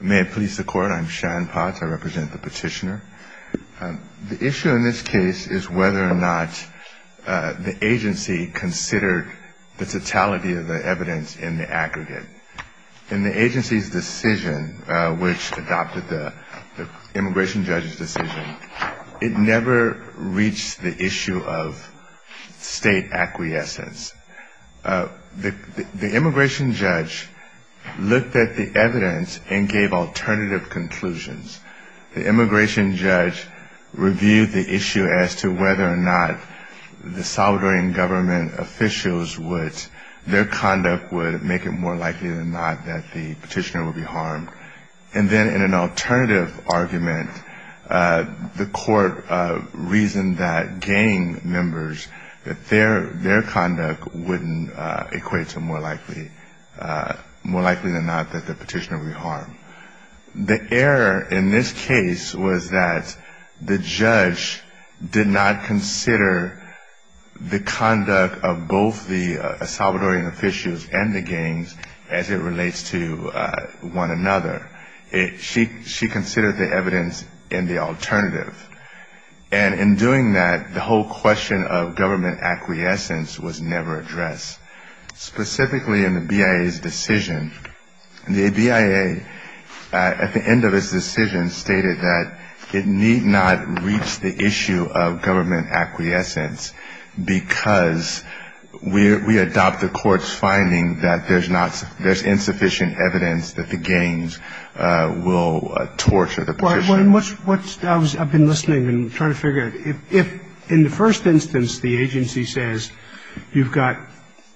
May it please the court, I'm Sean Potts, I represent the petitioner. The issue in this case is whether or not the agency considered the totality of the evidence in the aggregate. In the agency's decision, which adopted the immigration judge's decision, it never reached the issue of state acquiescence. The immigration judge looked at the evidence and gave alternative conclusions. The immigration judge reviewed the issue as to whether or not the Salvadorian government officials would, their conduct would make it more likely than not that the petitioner would be harmed. And then in an alternative argument, the court reasoned that gang members, that their conduct wouldn't equate to more likely than not that the petitioner would be harmed. The error in this case was that the judge did not consider the conduct of both the Salvadorian officials and the gangs as it relates to one another. She considered the evidence in the alternative. And in doing that, the whole question of government acquiescence was never addressed. Specifically in the BIA's decision, the BIA at the end of its decision stated that it need not reach the issue of government acquiescence because we adopt the court's finding that there's insufficient evidence that the gangs will torture the petitioner. I've been listening and trying to figure out. If in the first instance the agency says you've got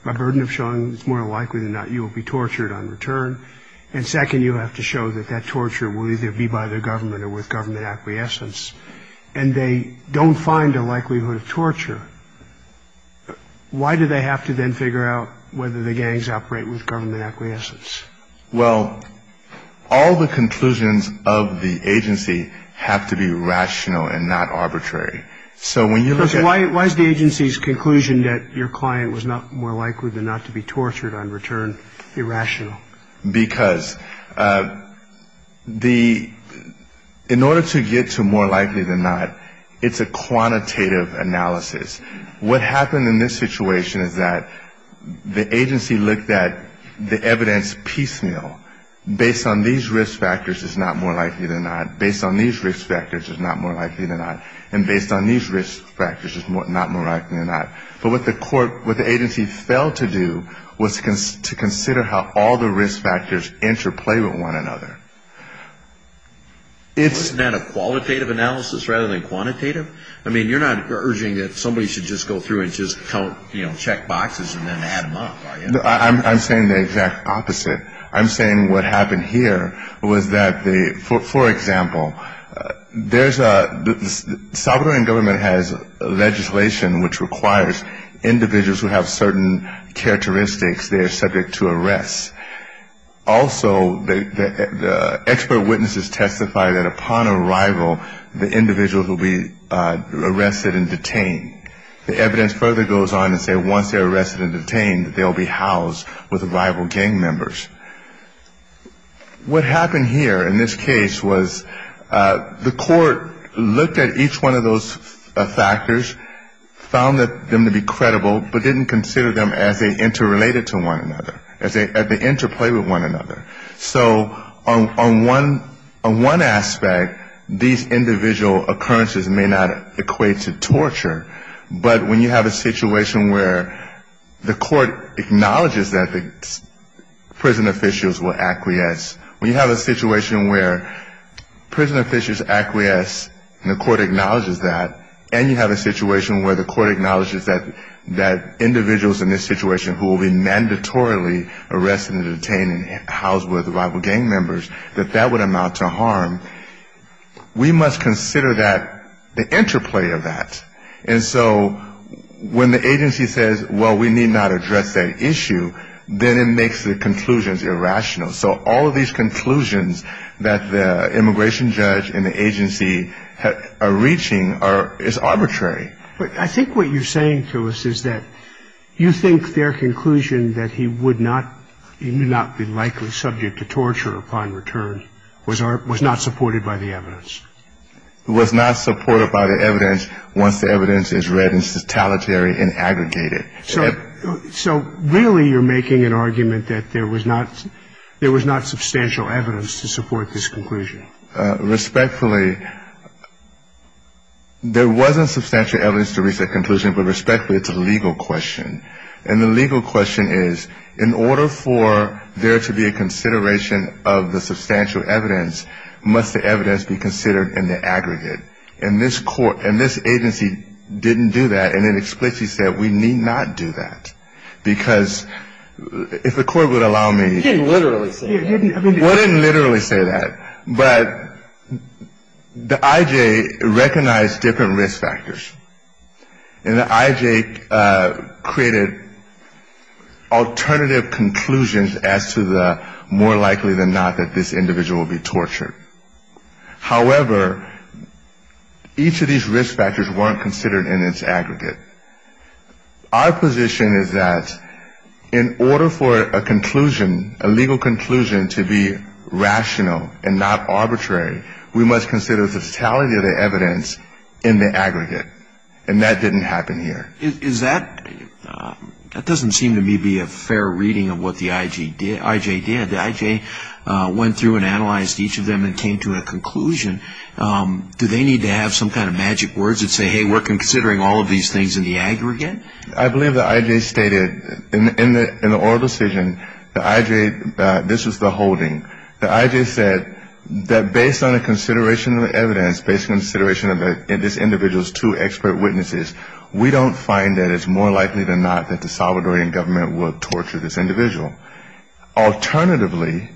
a burden of showing it's more likely than not you will be tortured on return, and second you have to show that that torture will either be by the government or with government acquiescence, and they don't find a likelihood of torture, why do they have to then figure out whether the gangs operate with government acquiescence? Well, all the conclusions of the agency have to be rational and not arbitrary. So when you look at... Why is the agency's conclusion that your client was not more likely than not to be tortured on return irrational? Because the... In order to get to more likely than not, it's a quantitative analysis. What happened in this situation is that the agency looked at the evidence piecemeal. Based on these risk factors, it's not more likely than not. Based on these risk factors, it's not more likely than not. And based on these risk factors, it's not more likely than not. But what the agency failed to do was to consider how all the risk factors interplay with one another. Isn't that a qualitative analysis rather than quantitative? I mean, you're not urging that somebody should just go through and just check boxes and then add them up, are you? I'm saying the exact opposite. I'm saying what happened here was that the... There's a... The Salvadoran government has legislation which requires individuals who have certain characteristics, they're subject to arrest. Also, the expert witnesses testify that upon arrival, the individuals will be arrested and detained. The evidence further goes on to say once they're arrested and detained, they'll be housed with rival gang members. What happened here in this case was the court looked at each one of those factors, found them to be credible, but didn't consider them as they interrelated to one another, as they interplay with one another. So on one aspect, these individual occurrences may not equate to torture, but when you have a situation where the court acknowledges that the prison officials will acquiesce, when you have a situation where prison officials acquiesce and the court acknowledges that, and you have a situation where the court acknowledges that individuals in this situation who will be mandatorily arrested and detained and housed with rival gang members, that that would amount to harm, we must consider that, the interplay of that. And so when the agency says, well, we need not address that issue, then it makes the conclusions irrational. So all of these conclusions that the immigration judge and the agency are reaching is arbitrary. But I think what you're saying to us is that you think their conclusion that he would not, he would not be likely subject to torture upon return was not supported by the evidence. It was not supported by the evidence once the evidence is read in totalitary and aggregated. So really you're making an argument that there was not substantial evidence to support this conclusion. Respectfully, there wasn't substantial evidence to reach that conclusion, but respectfully, it's a legal question. And the legal question is, in order for there to be a consideration of the substantial evidence, must the evidence be considered in the aggregate? And this agency didn't do that, and it explicitly said we need not do that. Because if the court would allow me to... You didn't literally say that. We didn't literally say that, but the IJ recognized different risk factors. And the IJ created alternative conclusions as to the more likely than not that this individual would be tortured. However, each of these risk factors weren't considered in its aggregate. Our position is that in order for a conclusion, a legal conclusion, to be rational and not arbitrary, we must consider the totality of the evidence in the aggregate. And that didn't happen here. That doesn't seem to me to be a fair reading of what the IJ did. The IJ went through and analyzed each of them and came to a conclusion. Do they need to have some kind of magic words that say, hey, we're considering all of these things in the aggregate? I believe the IJ stated in the oral decision, the IJ, this was the holding, the IJ said that based on the consideration of the evidence, based on the consideration of this individual's two expert witnesses, we don't find that it's more likely than not that the Salvadorian government will torture this individual. Alternatively,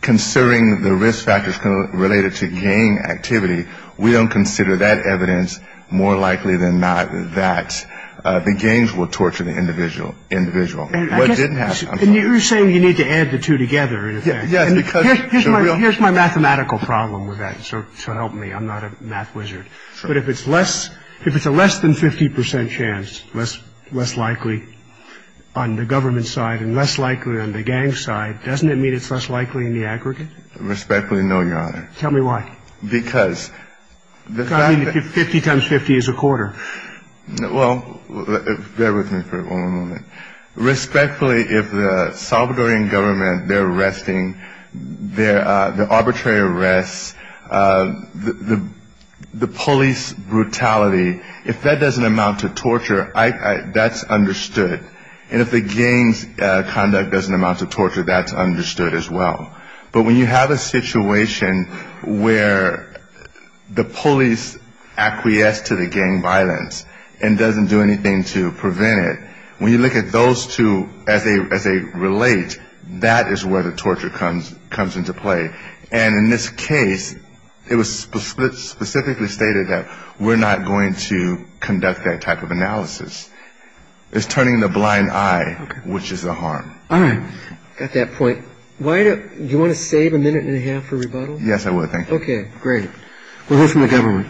considering the risk factors related to gang activity, we don't consider that evidence more likely than not that the gangs will torture the individual. And you're saying you need to add the two together, in effect. Yes. Here's my mathematical problem with that. So help me. I'm not a math wizard. But if it's less, if it's a less than 50 percent chance, less likely on the government side and less likely on the gang side, doesn't it mean it's less likely in the aggregate? Respectfully, no, Your Honor. Tell me why. Because. I mean, 50 times 50 is a quarter. Well, bear with me for a moment. Respectfully, if the Salvadorian government, their arresting, their arbitrary arrests, the police brutality, if that doesn't amount to torture, that's understood. And if the gang's conduct doesn't amount to torture, that's understood as well. But when you have a situation where the police acquiesce to the gang violence and doesn't do anything to prevent it, when you look at those two as they relate, that is where the torture comes into play. And in this case, it was specifically stated that we're not going to conduct that type of analysis. It's turning the blind eye, which is a harm. All right. Got that point. Do you want to save a minute and a half for rebuttal? Yes, I would, thank you. Okay, great. We'll hear from the government.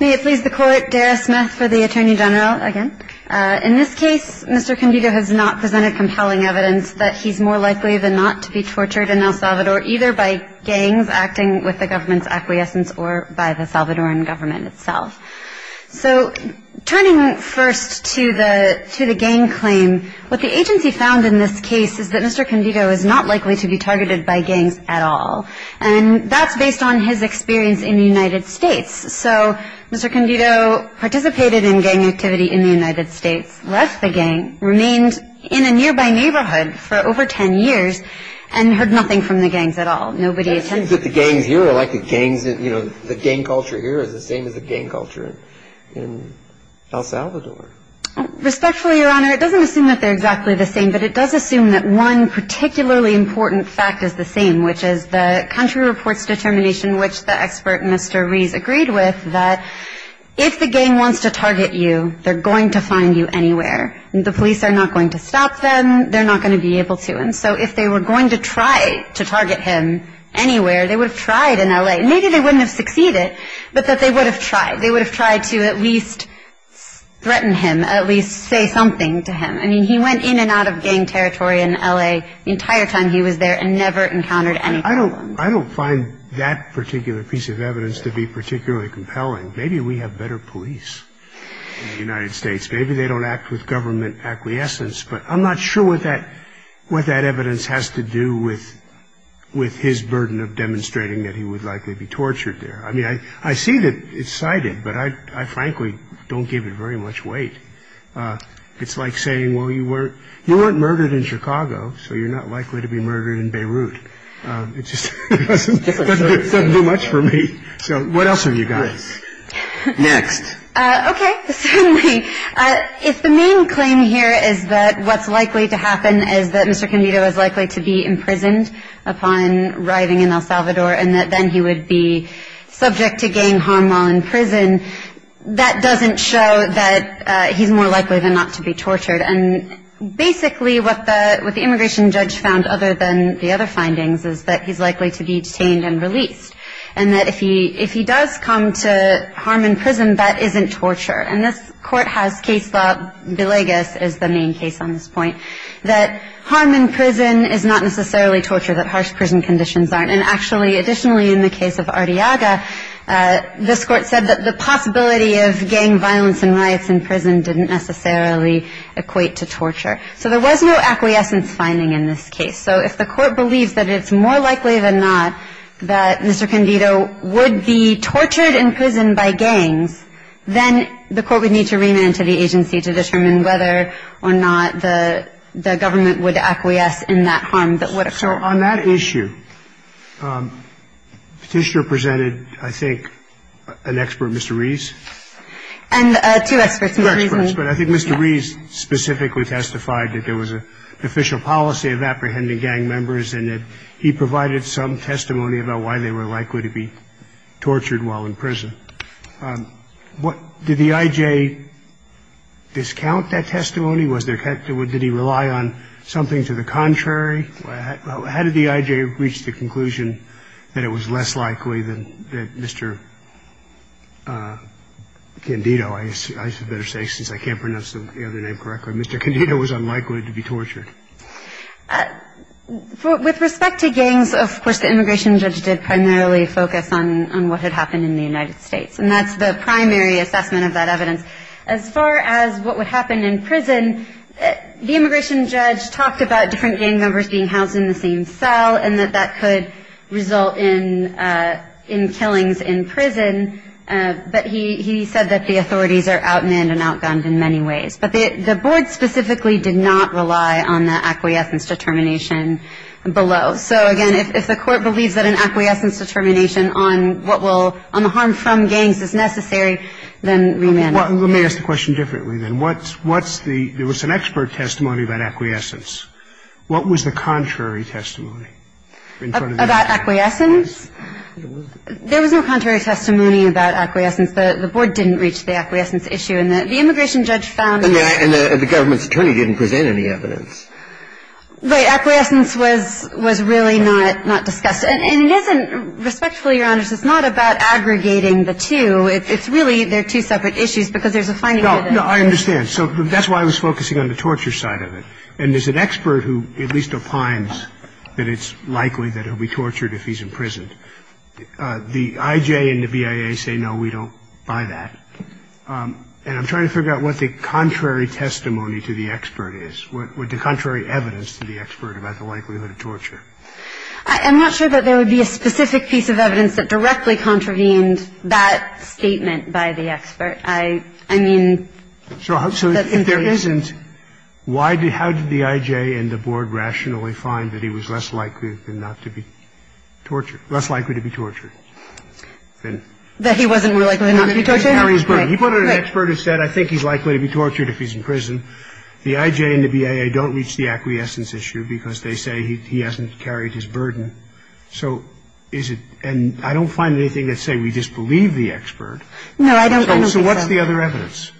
May it please the Court, Dara Smith for the Attorney General again. In this case, Mr. Condito has not presented compelling evidence that he's more likely than not to be tortured in El Salvador either by gangs acting with the government's acquiescence or by the Salvadoran government itself. So turning first to the gang claim, what the agency found in this case is that Mr. Condito is not likely to be targeted by gangs at all. And that's based on his experience in the United States. So Mr. Condito participated in gang activity in the United States, left the gang, remained in a nearby neighborhood for over ten years, and heard nothing from the gangs at all. Nobody attended. It seems that the gangs here are like the gangs in, you know, the gang culture here is the same as the gang culture in El Salvador. Respectfully, Your Honor, it doesn't assume that they're exactly the same, but it does assume that one particularly important fact is the same, which is the country reports determination which the expert, Mr. Rees, agreed with, that if the gang wants to target you, they're going to find you anywhere. The police are not going to stop them. They're not going to be able to. And so if they were going to try to target him anywhere, they would have tried in L.A. Maybe they wouldn't have succeeded, but that they would have tried. They would have tried to at least threaten him, at least say something to him. I mean, he went in and out of gang territory in L.A. the entire time he was there and never encountered any problems. I don't find that particular piece of evidence to be particularly compelling. Maybe we have better police in the United States. Maybe they don't act with government acquiescence. But I'm not sure what that evidence has to do with his burden of demonstrating that he would likely be tortured there. I mean, I see that it's cited, but I frankly don't give it very much weight. It's like saying, well, you weren't murdered in Chicago, so you're not likely to be murdered in Beirut. It just doesn't do much for me. So what else have you got? Next. Okay. If the main claim here is that what's likely to happen is that Mr. Convito is likely to be imprisoned upon arriving in El Salvador and that then he would be subject to gang harm while in prison, that doesn't show that he's more likely than not to be tortured. And basically what the immigration judge found, other than the other findings, is that he's likely to be detained and released, and that if he does come to harm in prison, that isn't torture. And this Court has case law, Villegas is the main case on this point, that harm in prison is not necessarily torture, that harsh prison conditions aren't. And actually, additionally, in the case of Arteaga, this Court said that the possibility of gang violence and riots in prison didn't necessarily equate to torture. So there was no acquiescence finding in this case. So if the Court believes that it's more likely than not that Mr. Convito would be tortured in prison by gangs, then the Court would need to remand to the agency to determine whether or not the government would acquiesce in that harm that would occur. So on that issue, Petitioner presented, I think, an expert, Mr. Rees? And two experts. Two experts. But I think Mr. Rees specifically testified that there was an official policy of apprehending gang members and that he provided some testimony about why they were likely to be tortured while in prison. Did the I.J. discount that testimony? Did he rely on something to the contrary? How did the I.J. reach the conclusion that it was less likely than Mr. Condito, I should better say since I can't pronounce the other name correctly, Mr. Condito was unlikely to be tortured? With respect to gangs, of course, the immigration judge did primarily focus on what had happened in the United States, and that's the primary assessment of that evidence. As far as what would happen in prison, the immigration judge talked about different gang members being housed in the same cell and that that could result in killings in prison, but he said that the authorities are outmanned and outgunned in many ways. But the board specifically did not rely on the acquiescence determination below. So, again, if the Court believes that an acquiescence determination on the harm from gangs is necessary, then we may not. Let me ask the question differently then. There was an expert testimony about acquiescence. What was the contrary testimony? About acquiescence? There was no contrary testimony about acquiescence. The board didn't reach the acquiescence issue. And the immigration judge found that. And the government's attorney didn't present any evidence. Right. Acquiescence was really not discussed. And it isn't, respectfully, Your Honors, it's not about aggregating the two. It's really they're two separate issues because there's a finding evidence. No, I understand. So that's why I was focusing on the torture side of it. And there's an expert who at least opines that it's likely that he'll be tortured if he's imprisoned. The I.J. and the BIA say, no, we don't buy that. And I'm trying to figure out what the contrary testimony to the expert is, what the contrary evidence to the expert about the likelihood of torture. I'm not sure that there would be a specific piece of evidence that directly contravened that statement by the expert. I mean, that's the thing. So if there isn't, how did the I.J. and the board rationally find that he was less likely than not to be tortured, less likely to be tortured? That he wasn't more likely than not to be tortured? He put out an expert who said, I think he's likely to be tortured if he's in prison. The I.J. and the BIA don't reach the acquiescence issue because they say he hasn't carried his burden. So is it – and I don't find anything that say we disbelieve the expert. No, I don't. So what's the other evidence?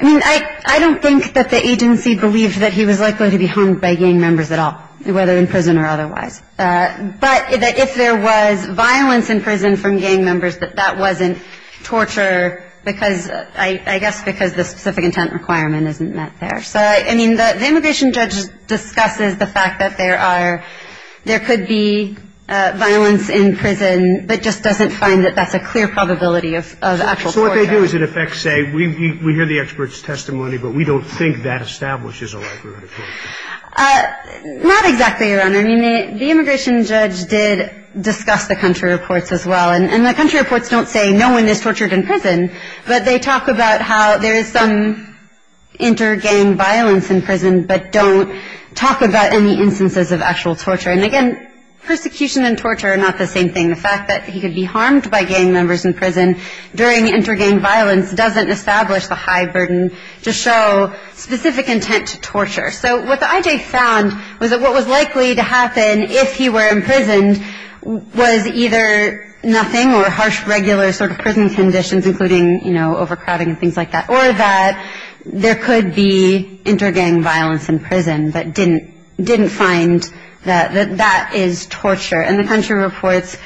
I mean, I don't think that the agency believed that he was likely to be hung by gang members at all, whether in prison or otherwise. But if there was violence in prison from gang members, that that wasn't torture because – I guess because the specific intent requirement isn't met there. So, I mean, the immigration judge discusses the fact that there are – there could be violence in prison, but just doesn't find that that's a clear probability of actual torture. So what they do is, in effect, say, we hear the expert's testimony, but we don't think that establishes a likelihood of torture. Not exactly, Your Honor. I mean, the immigration judge did discuss the country reports as well. And the country reports don't say no one is tortured in prison, but they talk about how there is some inter-gang violence in prison, but don't talk about any instances of actual torture. And, again, persecution and torture are not the same thing. The fact that he could be harmed by gang members in prison during inter-gang violence doesn't establish the high burden to show specific intent to torture. So what the IJ found was that what was likely to happen if he were imprisoned was either nothing or harsh regular sort of prison conditions, including, you know, overcrowding and things like that, or that there could be inter-gang violence in prison, but didn't find that that is torture. And the country reports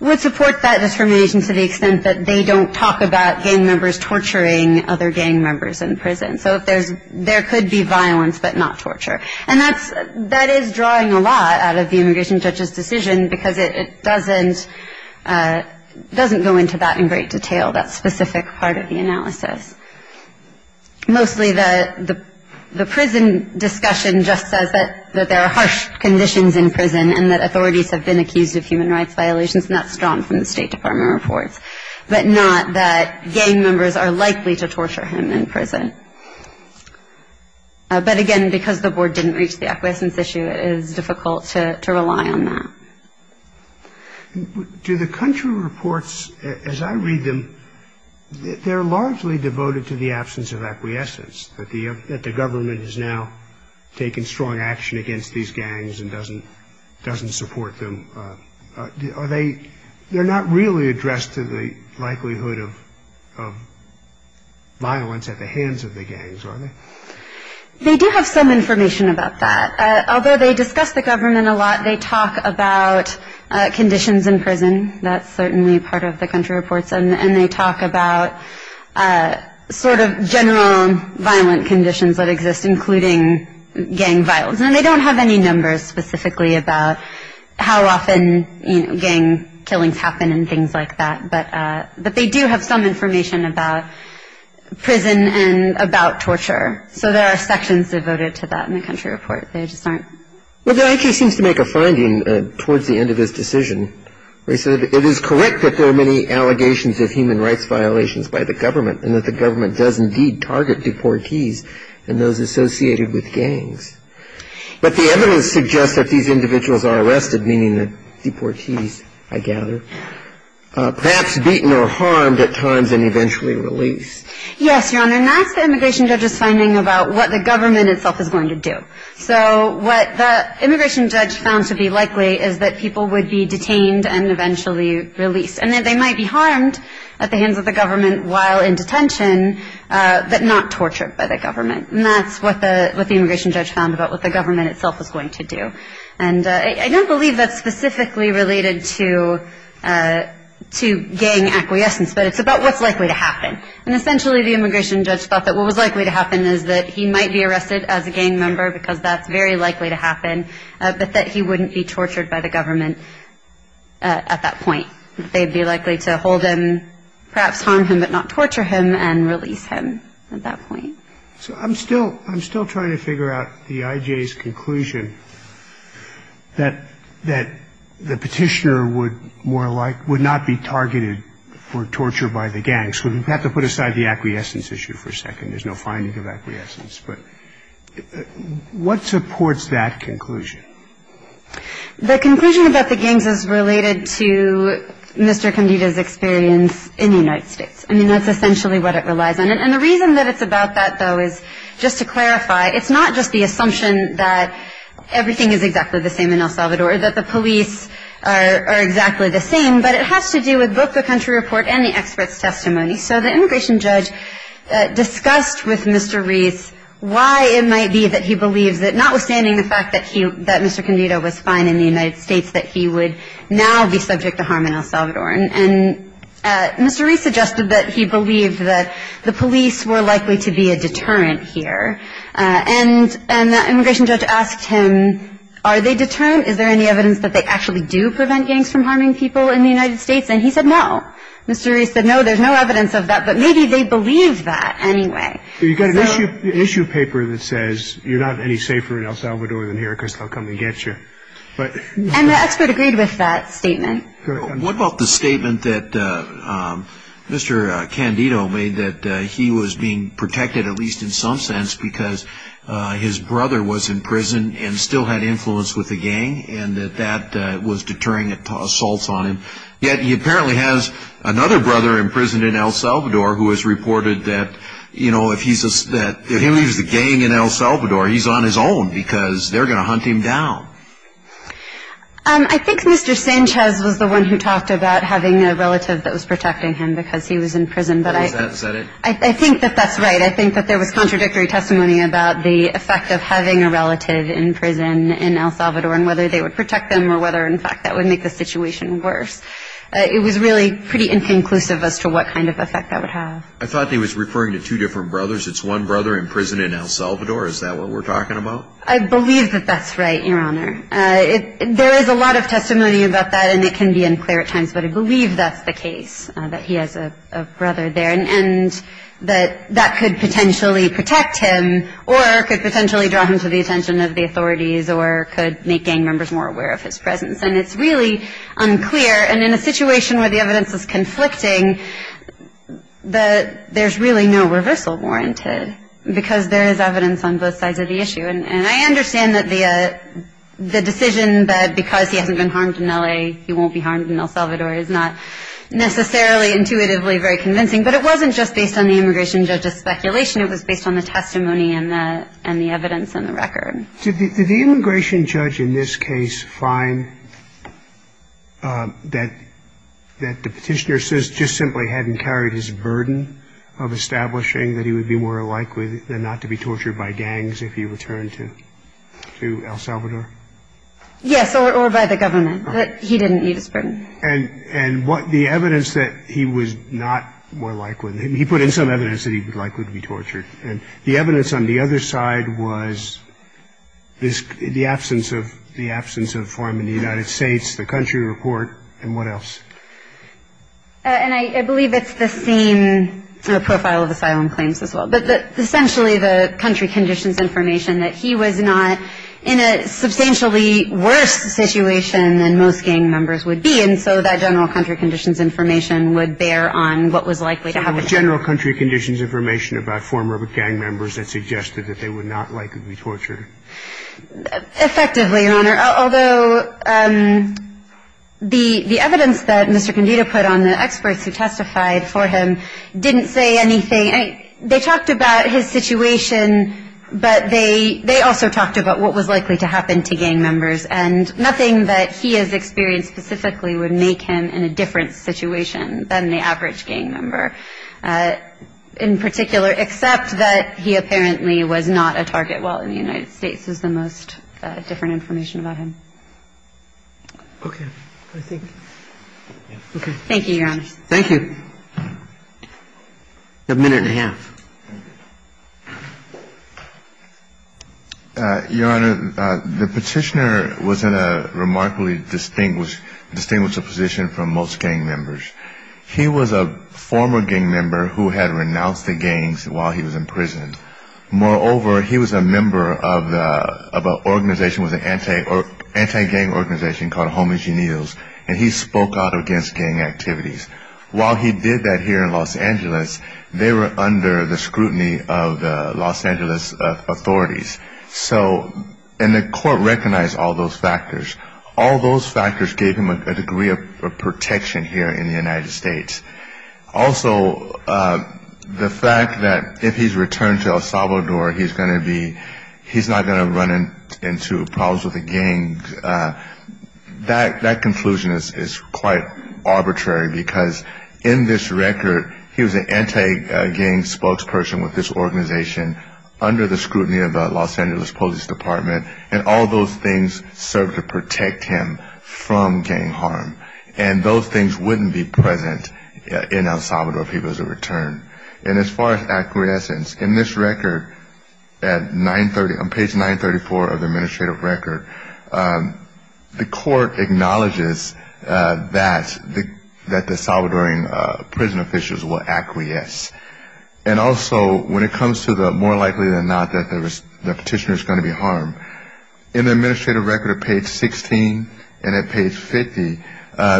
would support that discrimination to the extent that they don't talk about gang members torturing other gang members in prison. So if there's – there could be violence, but not torture. And that's – that is drawing a lot out of the immigration judge's decision, because it doesn't – it doesn't go into that in great detail, that specific part of the analysis. And that authorities have been accused of human rights violations, and that's drawn from the State Department reports. But not that gang members are likely to torture him in prison. But, again, because the board didn't reach the acquiescence issue, it is difficult to rely on that. Do the country reports, as I read them, they're largely devoted to the absence of acquiescence, that the government has now taken strong action against these gang members, but doesn't support them. Are they – they're not really addressed to the likelihood of violence at the hands of the gangs, are they? They do have some information about that. Although they discuss the government a lot, they talk about conditions in prison. That's certainly part of the country reports. And they talk about sort of general violent conditions that exist, including gang violence. And they don't have any numbers specifically about how often, you know, gang killings happen and things like that. But they do have some information about prison and about torture. So there are sections devoted to that in the country report. They just aren't – Well, the I.T. seems to make a finding towards the end of his decision. He said, it is correct that there are many allegations of human rights violations by the government, and that the government does indeed target deportees and those associated with gangs. But the evidence suggests that these individuals are arrested, meaning deportees, I gather, perhaps beaten or harmed at times and eventually released. Yes, Your Honor, and that's the immigration judge's finding about what the government itself is going to do. So what the immigration judge found to be likely is that people would be detained and eventually released. And that they might be harmed at the hands of the government while in And that's what the immigration judge found about what the government itself was going to do. And I don't believe that's specifically related to gang acquiescence, but it's about what's likely to happen. And essentially, the immigration judge thought that what was likely to happen is that he might be arrested as a gang member, because that's very likely to happen, but that he wouldn't be tortured by the government at that point. They'd be likely to hold him, perhaps harm him but not torture him, and So I'm still trying to figure out the IJ's conclusion that the petitioner would not be targeted for torture by the gangs. So we have to put aside the acquiescence issue for a second. There's no finding of acquiescence. But what supports that conclusion? The conclusion about the gangs is related to Mr. Candida's experience in the United States. I mean, that's essentially what it relies on. And the reason that it's about that, though, is just to clarify, it's not just the assumption that everything is exactly the same in El Salvador or that the police are exactly the same, but it has to do with both the country report and the expert's testimony. So the immigration judge discussed with Mr. Reese why it might be that he believes that, notwithstanding the fact that Mr. Candida was fine in the United States, that he would now be subject to harm in El Salvador. And Mr. Reese suggested that he believed that the police were likely to be a deterrent here. And that immigration judge asked him, are they deterrent? Is there any evidence that they actually do prevent gangs from harming people in the United States? And he said, no. Mr. Reese said, no, there's no evidence of that, but maybe they believe that anyway. So you've got an issue paper that says you're not any safer in El Salvador than here because they'll come and get you. And the expert agreed with that statement. What about the statement that Mr. Candida made that he was being protected, at least in some sense, because his brother was in prison and still had influence with the gang and that that was deterring assaults on him. Yet he apparently has another brother in prison in El Salvador who has reported that, you know, if he leaves the gang in El Salvador, he's on his own because they're going to hunt him down. I think Mr. Sanchez was the one who talked about having a relative that was protecting him because he was in prison. Was that it? I think that that's right. I think that there was contradictory testimony about the effect of having a relative in prison in El Salvador and whether they would protect them or whether, in fact, that would make the situation worse. It was really pretty inconclusive as to what kind of effect that would have. I thought he was referring to two different brothers. It's one brother in prison in El Salvador. Is that what we're talking about? I believe that that's right, Your Honor. There is a lot of testimony about that, and it can be unclear at times, but I believe that's the case, that he has a brother there and that that could potentially protect him or could potentially draw him to the attention of the authorities or could make gang members more aware of his presence. And it's really unclear. And in a situation where the evidence is conflicting, there's really no And I understand that the decision that because he hasn't been harmed in L.A., he won't be harmed in El Salvador is not necessarily intuitively very convincing. But it wasn't just based on the immigration judge's speculation. It was based on the testimony and the evidence and the record. Did the immigration judge in this case find that the petitioner just simply hadn't carried his burden of establishing that he would be more likely than not to be tortured by gangs if he returned to El Salvador? Yes, or by the government, that he didn't need his burden. And what the evidence that he was not more likely, he put in some evidence that he was likely to be tortured. And the evidence on the other side was the absence of farm in the United States, the country report, and what else? And I believe it's the same profile of asylum claims as well. But essentially the country conditions information that he was not in a substantially worse situation than most gang members would be. And so that general country conditions information would bear on what was likely to happen. So it was general country conditions information about former gang members that suggested that they would not likely be tortured. Effectively, Your Honor. Although the evidence that Mr. Condito put on the experts who testified for him didn't say anything, they talked about his situation, but they also talked about what was likely to happen to gang members. And nothing that he has experienced specifically would make him in a different situation than the average gang member in particular, except that he apparently was not a target while in the United States is the most different information about him. Okay. I think. Okay. Thank you, Your Honor. Thank you. A minute and a half. Your Honor, the Petitioner was in a remarkably distinguished position from most gang members. He was a former gang member who had renounced the gangs while he was imprisoned. Moreover, he was a member of an organization, an anti-gang organization called Homage to Needles, and he spoke out against gang activities. While he did that here in Los Angeles, they were under the scrutiny of the Los Angeles authorities. So, and the court recognized all those factors. All those factors gave him a degree of protection here in the United States. Also, the fact that if he's returned to El Salvador, he's going to be, he's not going to run into problems with a gang, that conclusion is quite arbitrary, because in this record, he was an anti-gang spokesperson with this organization, under the scrutiny of the Los Angeles Police Department, and all those things served to protect him from gang harm. And those things wouldn't be present in El Salvador if he was to return. And as far as acquiescence, in this record, at 930, on page 934 of the administrative record, the court acknowledges that the Salvadoran prison officials will acquiesce. And also, when it comes to the more likely than not that the petitioner is going to be harmed, in the administrative record at page 16 and at page 50,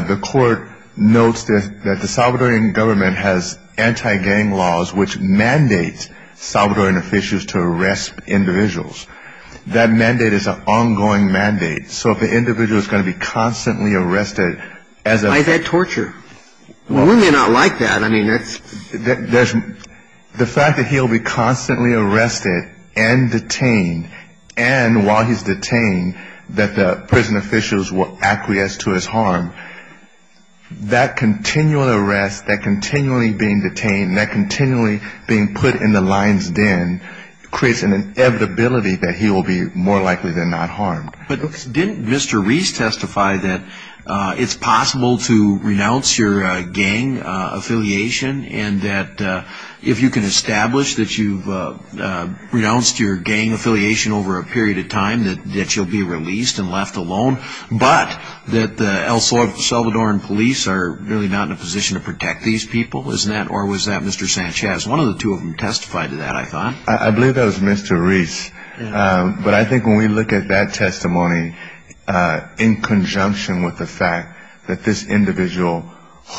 the court notes that the Salvadoran government has anti-gang laws which mandate Salvadoran officials to arrest individuals. That mandate is an ongoing mandate. So if an individual is going to be constantly arrested as a... Why is that torture? We may not like that. I mean, that's... The fact that he'll be constantly arrested and detained, and while he's detained, that the prison officials will acquiesce to his harm, that continual arrest, that continually being detained, that continually being put in the lion's den, creates an inevitability that he will be more likely than not harmed. But didn't Mr. Reese testify that it's possible to renounce your gang affiliation and that if you can establish that you've renounced your gang affiliation over a period of time, that you'll be released and left alone, but that the El Salvadoran police are really not in a position to protect these people? Or was that Mr. Sanchez? One of the two of them testified to that, I thought. I believe that was Mr. Reese. But I think when we look at that testimony, in conjunction with the fact that this individual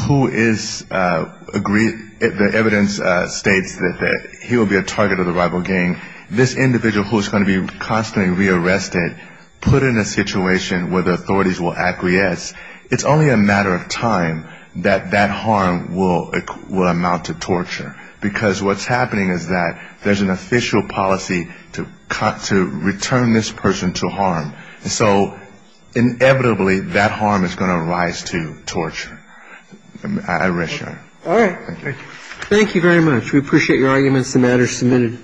who is agreed... The evidence states that he will be a target of the rival gang. This individual who is going to be constantly rearrested, put in a situation where the authorities will acquiesce, it's only a matter of time that that harm will amount to torture. Because what's happening is that there's an official policy to return this person to harm. And so, inevitably, that harm is going to rise to torture. All right. Thank you. Thank you very much. We appreciate your arguments. The matter is submitted.